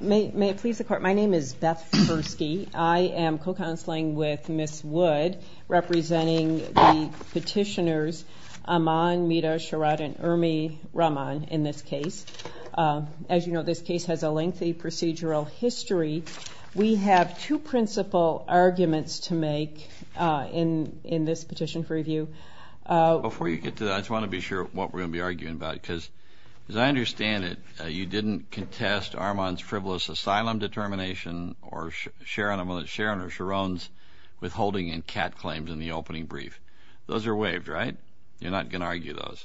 May it please the court, my name is Beth Fersky. I am co-counseling with Ms. Wood representing the petitioners Aman, Mita, Sharad, and Irmi Rahman in this case. As you know, this case has a lengthy procedural history. We have two principal arguments to make in this petition for review. Before you get to that, I just want to be sure what we're going to be arguing about. Because as I understand it, you didn't contest Rahman's frivolous asylum determination or Sharon or Sharon's withholding and cat claims in the opening brief. Those are waived, right? You're not going to argue those?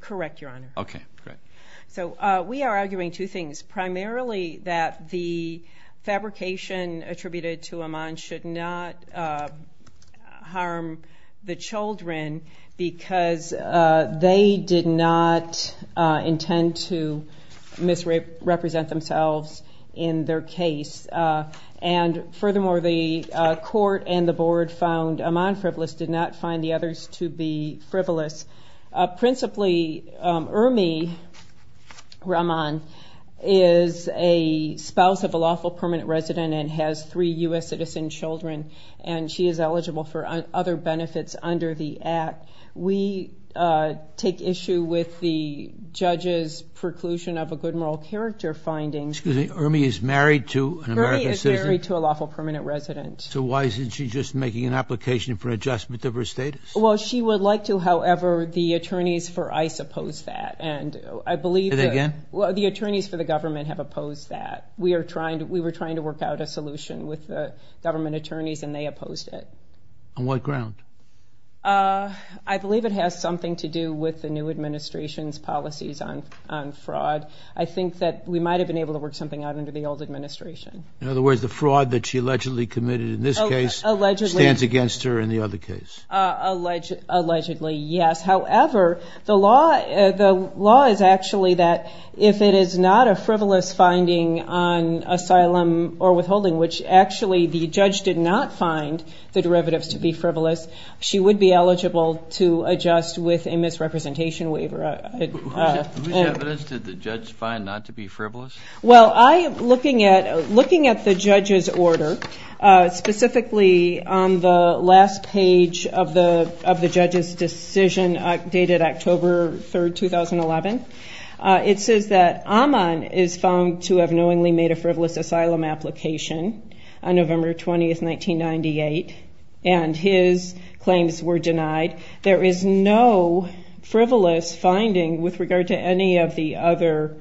Correct, Your Honor. Okay, great. So we are arguing two things. Primarily that the fabrication attributed to Aman should not harm the children because they did not intend to misrepresent themselves in their case. And furthermore, the court and the board found Aman frivolous, did not find the others to be frivolous. Principally, Irmi Rahman is a spouse of a lawful permanent resident and has three U.S. citizen children. And she is eligible for other benefits under the act. We take issue with the judge's preclusion of a good moral character finding. Excuse me, Irmi is married to an American citizen? Irmi is married to a lawful permanent resident. So why isn't she just making an application for an adjustment of her status? Well, she would like to. However, the attorneys for ICE oppose that. And I believe... Say that again? Well, the attorneys for the government have opposed that. We were trying to work out a solution with the government attorneys and they opposed it. On what ground? I believe it has something to do with the new administration's policies on fraud. I think that we might have been able to work something out under the old administration. In other words, the fraud that she allegedly committed in this case stands against her in the other case. Allegedly, yes. However, the law is actually that if it is not a frivolous finding on asylum or withholding, which actually the judge did not find the derivatives to be frivolous, she would be eligible to adjust with a misrepresentation waiver. Whose evidence did the judge find not to be frivolous? Well, looking at the judge's order, specifically on the last page of the judge's decision dated October 3, 2011, it says that Aman is found to have knowingly made a frivolous asylum application on November 20, 1998, and his claims were denied. There is no frivolous finding with regard to any of the other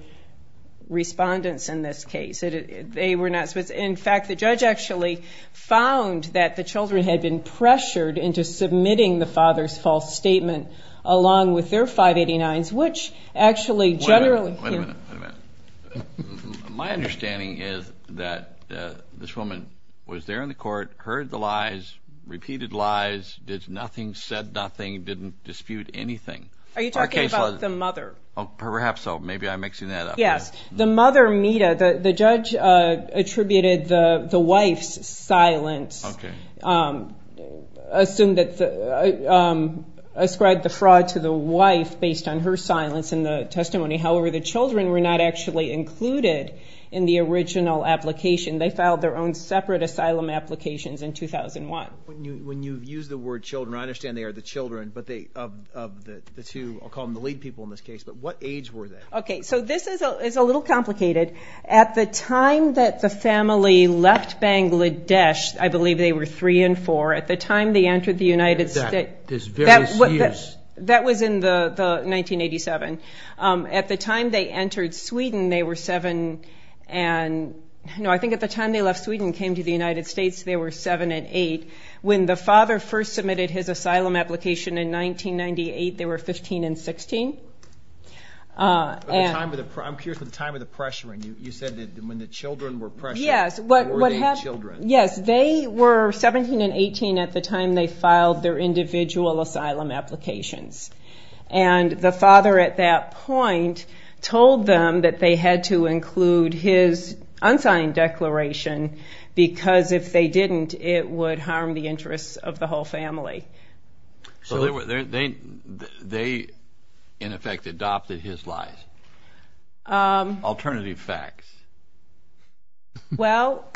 respondents in this case. In fact, the judge actually found that the children had been pressured into submitting the father's false statement along with their 589s, which actually generally... Wait a minute. My understanding is that this woman was there in the court, heard the lies, repeated lies, did nothing, said nothing, didn't dispute anything. Are you talking about the mother? Perhaps so. Maybe I'm mixing that up. Yes. The mother, Mita, the judge attributed the wife's silence, ascribed the fraud to the wife based on her silence in the testimony. However, the children were not actually included in the original application. They filed their own separate asylum applications in 2001. When you use the word children, I understand they are the children of the two, I'll call them the lead people in this case, but what age were they? Okay. So this is a little complicated. At the time that the family left Bangladesh, I believe they were three and four. At the time they entered the United States... That is various years. That was in 1987. At the time they entered Sweden, they were seven and... When the father first submitted his asylum application in 1998, they were 15 and 16. I'm curious about the time of the pressuring. You said that when the children were pressuring, they were the children. Yes. They were 17 and 18 at the time they filed their individual asylum applications. And the father at that point told them that they had to include his unsigned declaration because if they didn't, it would harm the interests of the whole family. So they, in effect, adopted his lies. Alternative facts. Well,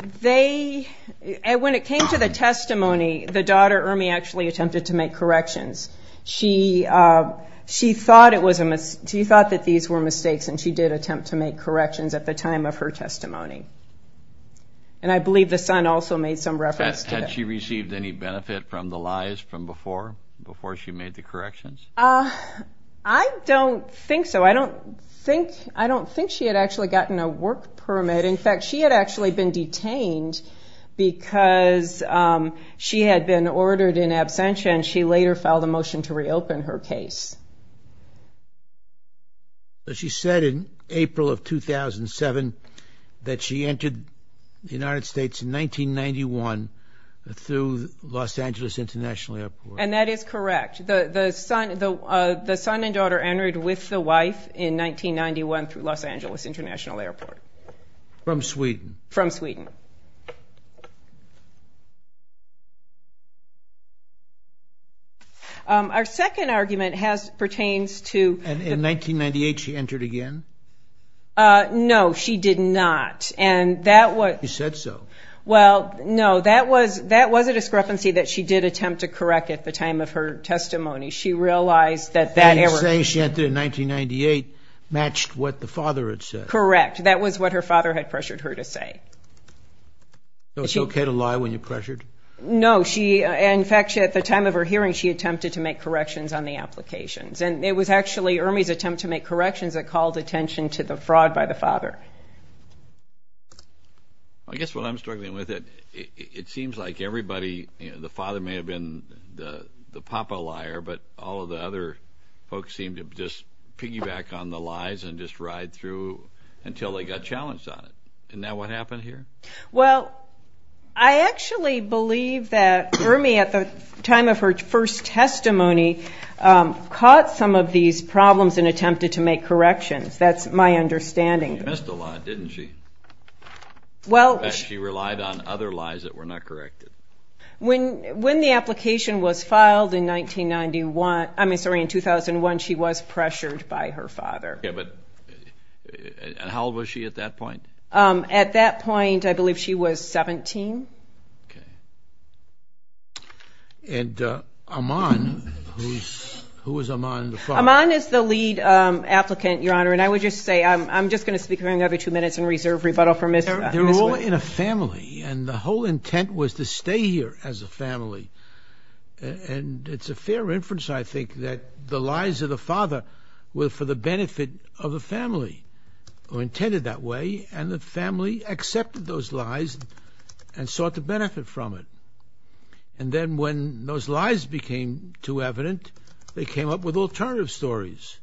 when it came to the testimony, the daughter, Irmi, actually attempted to make corrections. She thought that these were mistakes, and she did attempt to make corrections at the time of her testimony. And I believe the son also made some reference to it. Had she received any benefit from the lies from before, before she made the corrections? I don't think so. I don't think she had actually gotten a work permit. In fact, she had actually been detained because she had been ordered in absentia, and she later filed a motion to reopen her case. But she said in April of 2007 that she entered the United States in 1991 through Los Angeles International Airport. And that is correct. The son and daughter entered with the wife in 1991 through Los Angeles International Airport. From Sweden. From Sweden. Our second argument pertains to the... In 1998, she entered again? No, she did not. And that was... She said so. Well, no, that was a discrepancy that she did attempt to correct at the time of her testimony. She realized that that error... Saying she entered in 1998 matched what the father had said. Correct. That was what her father had pressured her to say. So it's okay to lie when you're pressured? No, she... In fact, at the time of her hearing, she attempted to make corrections on the applications. And it was actually Ermey's attempt to make corrections that called attention to the fraud by the father. I guess what I'm struggling with, it seems like everybody... The father may have been the papa liar, but all of the other folks seemed to just piggyback on the lies and just ride through until they got challenged on it. And now what happened here? Well, I actually believe that Ermey, at the time of her first testimony, caught some of these problems and attempted to make corrections. That's my understanding. She missed a lot, didn't she? Well... In fact, she relied on other lies that were not corrected. When the application was filed in 1991... I mean, sorry, in 2001, she was pressured by her father. Yeah, but... And how old was she at that point? At that point, I believe she was 17. Okay. And Amman... Who is Amman the father? Amman is the lead applicant, Your Honor. And I would just say, I'm just going to speak for another two minutes in reserve rebuttal for Ms. Witt. They were all in a family, and the whole intent was to stay here as a family. And it's a fair reference, I think, that the lies of the father were for the benefit of the family who intended that way, and the family accepted those lies and sought the benefit from it. And then when those lies became too evident, they came up with alternative stories.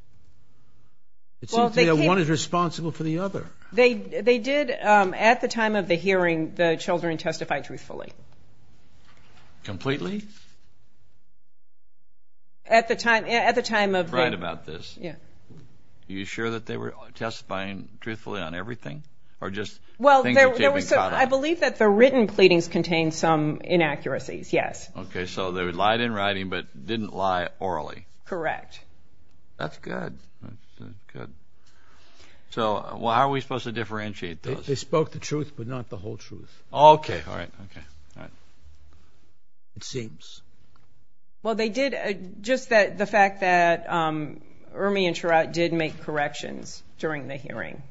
It seems to me that one is responsible for the other. They did... At the time of the hearing, the children testified truthfully. Completely? At the time of the... You're right about this. Yeah. Are you sure that they were testifying truthfully on everything? Well, I believe that the written pleadings contained some inaccuracies, yes. Okay. So they lied in writing but didn't lie orally. Correct. That's good. So how are we supposed to differentiate those? They spoke the truth but not the whole truth. Okay. All right. It seems. Well, they did... Just the fact that Ermey and Trout did make corrections during the hearing.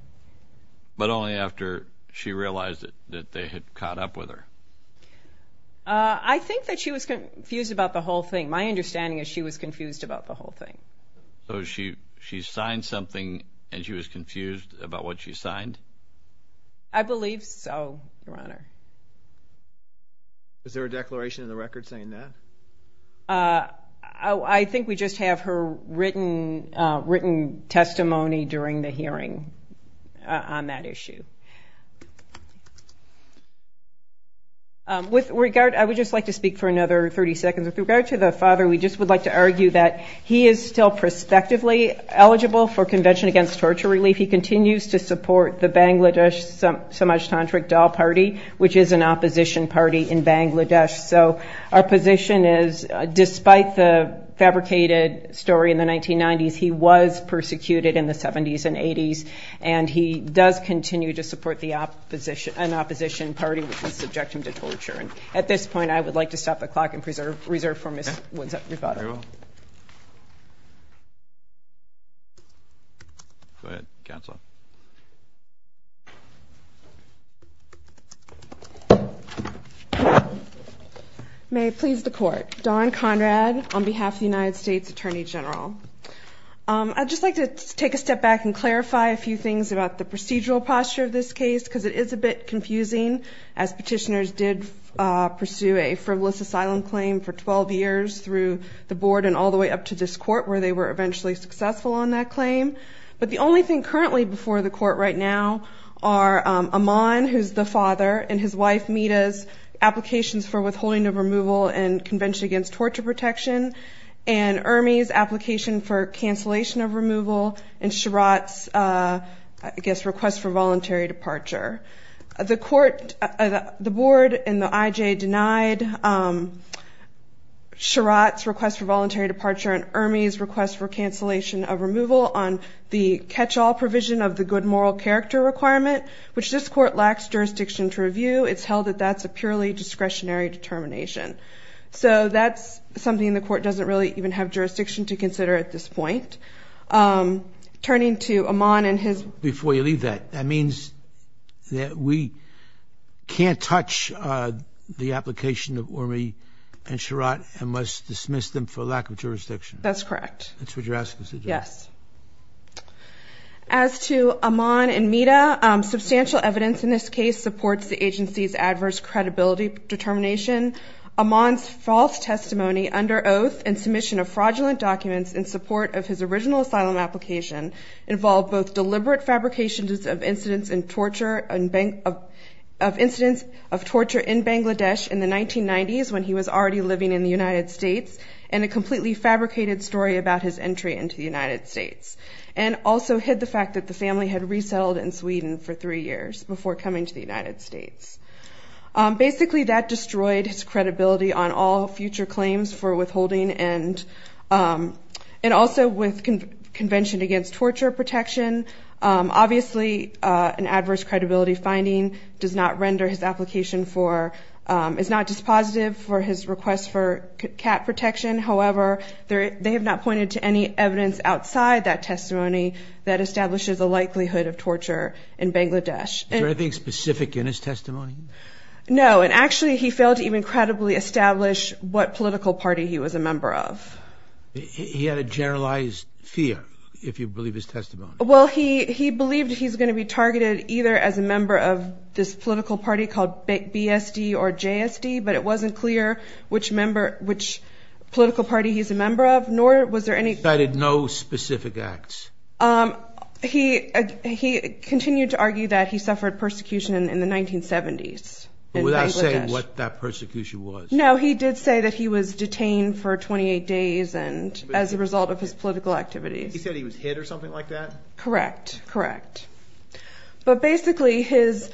But only after she realized that they had caught up with her. I think that she was confused about the whole thing. My understanding is she was confused about the whole thing. So she signed something and she was confused about what she signed? I believe so, Your Honor. Is there a declaration in the record saying that? I think we just have her written testimony during the hearing on that issue. With regard... I would just like to speak for another 30 seconds. With regard to the father, we just would like to argue that he is still prospectively eligible for Convention Against Torture Relief. He continues to support the Bangladesh Samaj Tandrik Dal Party, which is an opposition party in Bangladesh. So our position is, despite the fabricated story in the 1990s, he was persecuted in the 70s and 80s. And he does continue to support an opposition party which is subjecting him to torture. At this point, I would like to stop the clock and reserve for Ms. Winsup-Rivado. Very well. Go ahead, counsel. May it please the Court. Dawn Conrad on behalf of the United States Attorney General. I'd just like to take a step back and clarify a few things about the procedural posture of this case because it is a bit confusing as petitioners did pursue a frivolous asylum claim for 12 years through the board and all the way up to this court where they were eventually successful on that claim. But the only thing currently before the court right now are Amman, who's the father, and his wife Mita's applications for withholding of removal in Convention Against Torture Protection, and Ermi's application for cancellation of removal, and Shirat's, I guess, request for voluntary departure. The court, the board and the IJ denied Shirat's request for voluntary departure and Ermi's request for cancellation of removal on the catch-all provision of the good moral character requirement, which this court lacks jurisdiction to review. It's held that that's a purely discretionary determination. So that's something the court doesn't really even have jurisdiction to consider at this point. Turning to Amman and his... Before you leave that, that means that we can't touch the application of Ermi and Shirat and must dismiss them for lack of jurisdiction. That's correct. That's what you're asking us to do. Yes. As to Amman and Mita, substantial evidence in this case supports the agency's adverse credibility determination. Amman's false testimony under oath and submission of fraudulent documents in support of his original asylum application involved both deliberate fabrications of incidents of torture in Bangladesh in the 1990s, when he was already living in the United States, and a completely fabricated story about his entry into the United States, and also hid the fact that the family had resettled in Sweden for three years before coming to the United States. Basically, that destroyed his credibility on all future claims for withholding, and also with Convention Against Torture Protection. Obviously, an adverse credibility finding does not render his application for... is not dispositive for his request for CAT protection. However, they have not pointed to any evidence outside that testimony that establishes a likelihood of torture in Bangladesh. Is there anything specific in his testimony? No. And actually, he failed to even credibly establish what political party he was a member of. He had a generalized fear, if you believe his testimony. Well, he believed he's going to be targeted either as a member of this political party called BSD or JSD, but it wasn't clear which member, which political party he's a member of, nor was there any... Cited no specific acts. He continued to argue that he suffered persecution in the 1970s in Bangladesh. Without saying what that persecution was. No, he did say that he was detained for 28 days as a result of his political activities. He said he was hit or something like that? Correct, correct. But basically, his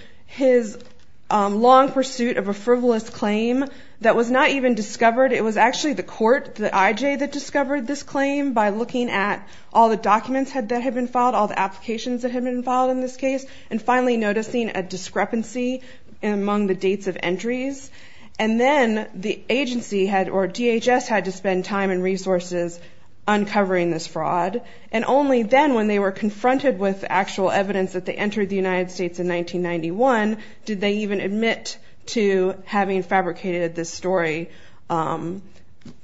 long pursuit of a frivolous claim that was not even discovered, it was actually the court, the IJ that discovered this claim, by looking at all the documents that had been filed, all the applications that had been filed in this case, and finally noticing a discrepancy among the dates of entries. And then the agency, or DHS, had to spend time and resources uncovering this fraud. And only then, when they were confronted with actual evidence that they entered the United States in 1991, did they even admit to having fabricated this story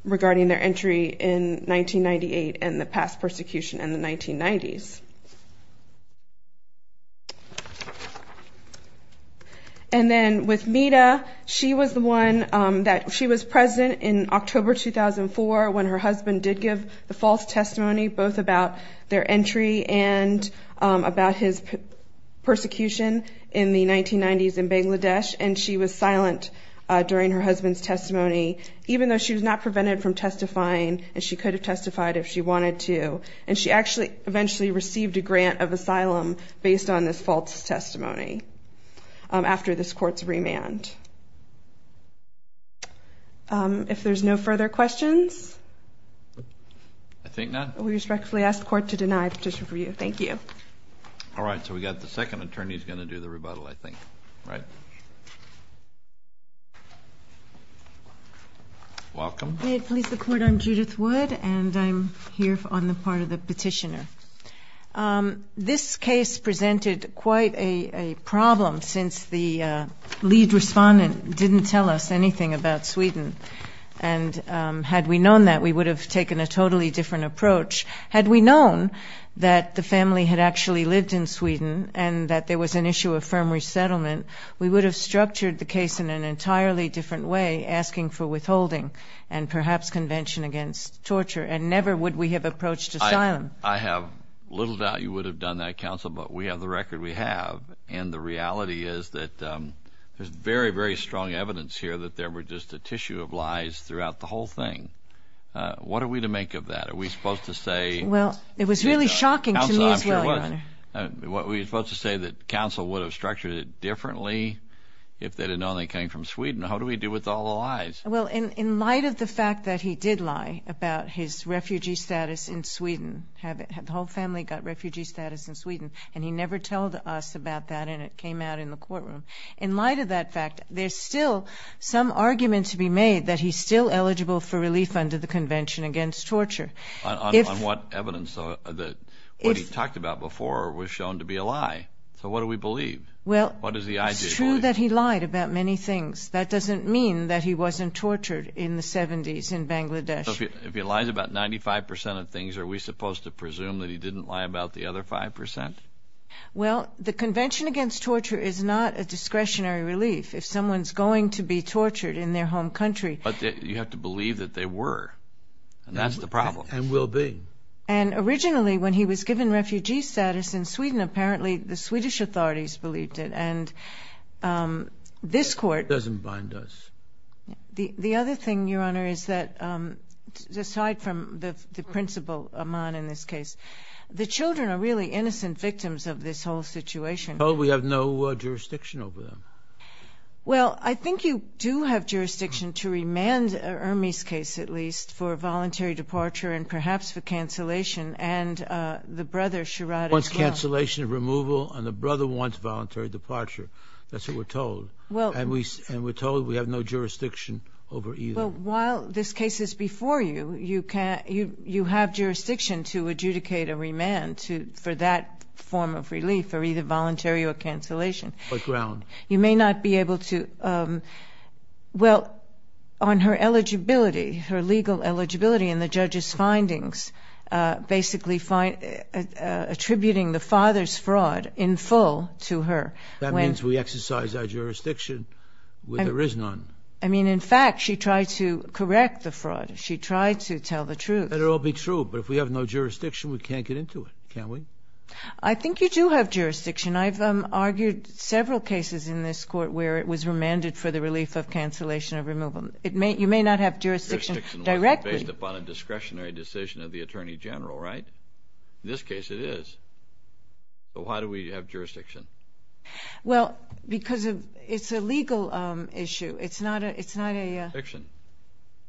regarding their entry in 1998 and the past persecution in the 1990s. And then with Mita, she was the one that... She was present in October 2004, when her husband did give the false testimony, both about their entry and about his persecution in the 1990s in Bangladesh. And she was silent during her husband's testimony, even though she was not prevented from testifying, and she could have testified if she wanted to. And she actually eventually received a grant of asylum based on this false testimony after this court's remand. If there's no further questions? I think not. We respectfully ask the Court to deny a petition for you. Thank you. All right. So we've got the second attorney who's going to do the rebuttal, I think. Right? Welcome. May it please the Court, I'm Judith Wood, and I'm here on the part of the petitioner. This case presented quite a problem, since the lead respondent didn't tell us anything about Sweden. And had we known that, we would have taken a totally different approach. Had we known that the family had actually lived in Sweden and that there was an issue of firm resettlement, we would have structured the case in an entirely different way, asking for withholding and perhaps convention against torture, and never would we have approached asylum. I have little doubt you would have done that, Counsel, but we have the record we have. And the reality is that there's very, very strong evidence here that there were just a tissue of lies throughout the whole thing. What are we to make of that? Are we supposed to say... Well, it was really shocking to me as well, Your Honor. Counsel, I'm sure it was. Were we supposed to say that Counsel would have structured it differently if they had known they came from Sweden? How do we deal with all the lies? Well, in light of the fact that he did lie about his refugee status in Sweden, the whole family got refugee status in Sweden, and he never told us about that, and it came out in the courtroom, in light of that fact, there's still some argument to be made that he's still eligible for relief under the Convention Against Torture. On what evidence? What he talked about before was shown to be a lie. So what do we believe? Well, it's true that he lied about many things. That doesn't mean that he wasn't tortured in the 70s in Bangladesh. So if he lies about 95% of things, are we supposed to presume that he didn't lie about the other 5%? Well, the Convention Against Torture is not a discretionary relief. If someone's going to be tortured in their home country... But you have to believe that they were, and that's the problem. And will be. And originally, when he was given refugee status in Sweden, apparently the Swedish authorities believed it, and this court... Doesn't bind us. The other thing, Your Honor, is that, aside from the principal, Aman, in this case, the children are really innocent victims of this whole situation. Well, we have no jurisdiction over them. Well, I think you do have jurisdiction to remand Ermey's case, at least, for voluntary departure, and perhaps for cancellation, and the brother, Sharada, as well. And the brother wants voluntary departure. That's what we're told. And we're told we have no jurisdiction over either. Well, while this case is before you, you have jurisdiction to adjudicate a remand for that form of relief, for either voluntary or cancellation. What ground? You may not be able to... Well, on her eligibility, her legal eligibility in the judge's findings, basically attributing the father's fraud in full to her. That means we exercise our jurisdiction when there is none. I mean, in fact, she tried to correct the fraud. She tried to tell the truth. Let it all be true, but if we have no jurisdiction, we can't get into it, can we? I think you do have jurisdiction. I've argued several cases in this Court where it was remanded for the relief of cancellation of removal. You may not have jurisdiction directly. Jurisdiction wasn't based upon a discretionary decision of the Attorney General, right? In this case, it is. So why do we have jurisdiction? Well, because it's a legal issue. It's not a... Jurisdiction.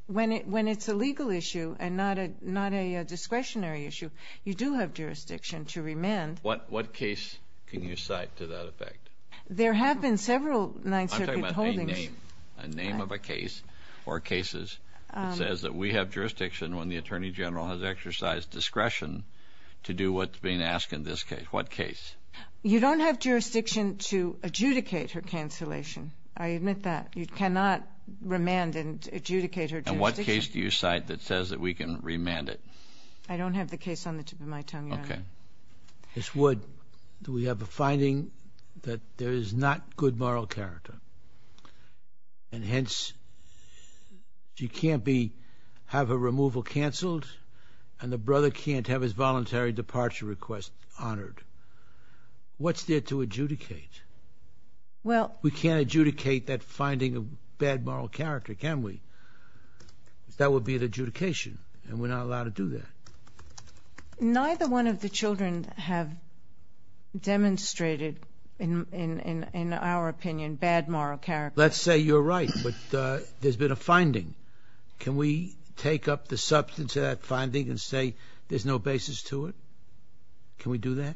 When it's a legal issue and not a discretionary issue, you do have jurisdiction to remand. What case can you cite to that effect? There have been several Ninth Circuit holdings... I'm talking about a name. A name of a case or cases that says that we have jurisdiction when the Attorney General has exercised discretion to do what's being asked in this case. What case? You don't have jurisdiction to adjudicate her cancellation. I admit that. You cannot remand and adjudicate her jurisdiction. And what case do you cite that says that we can remand it? I don't have the case on the tip of my tongue, Your Honor. Okay. Ms. Wood, we have a finding that there is not good moral character. And hence, you can't have her removal canceled and the brother can't have his voluntary departure request honored. What's there to adjudicate? We can't adjudicate that finding of bad moral character, can we? That would be an adjudication, and we're not allowed to do that. Neither one of the children have demonstrated, in our opinion, bad moral character. Let's say you're right, but there's been a finding. Can we take up the substance of that finding and say there's no basis to it? Can we do that?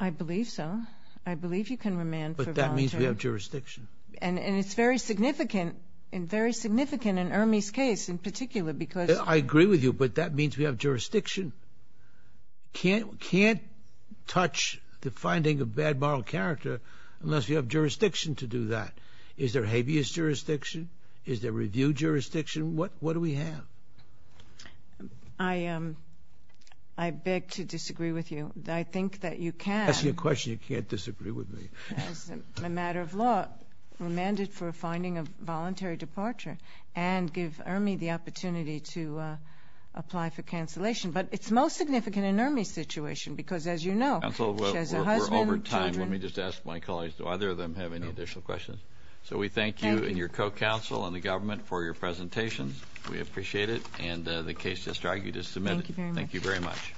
I believe so. I believe you can remand for voluntary... But that means we have jurisdiction. And it's very significant, and very significant in Ermey's case in particular because... I agree with you, but that means we have jurisdiction. Can't touch the finding of bad moral character unless you have jurisdiction to do that. Is there habeas jurisdiction? Is there review jurisdiction? What do we have? I beg to disagree with you. I think that you can... I'm asking you a question you can't disagree with me. As a matter of law, remanded for a finding of voluntary departure, and give Ermey the opportunity to apply for cancellation. But it's most significant in Ermey's situation because, as you know... Counsel, we're over time. Let me just ask my colleagues, do either of them have any additional questions? So we thank you and your co-counsel and the government for your presentations. We appreciate it, and the case just argued is submitted. Thank you very much.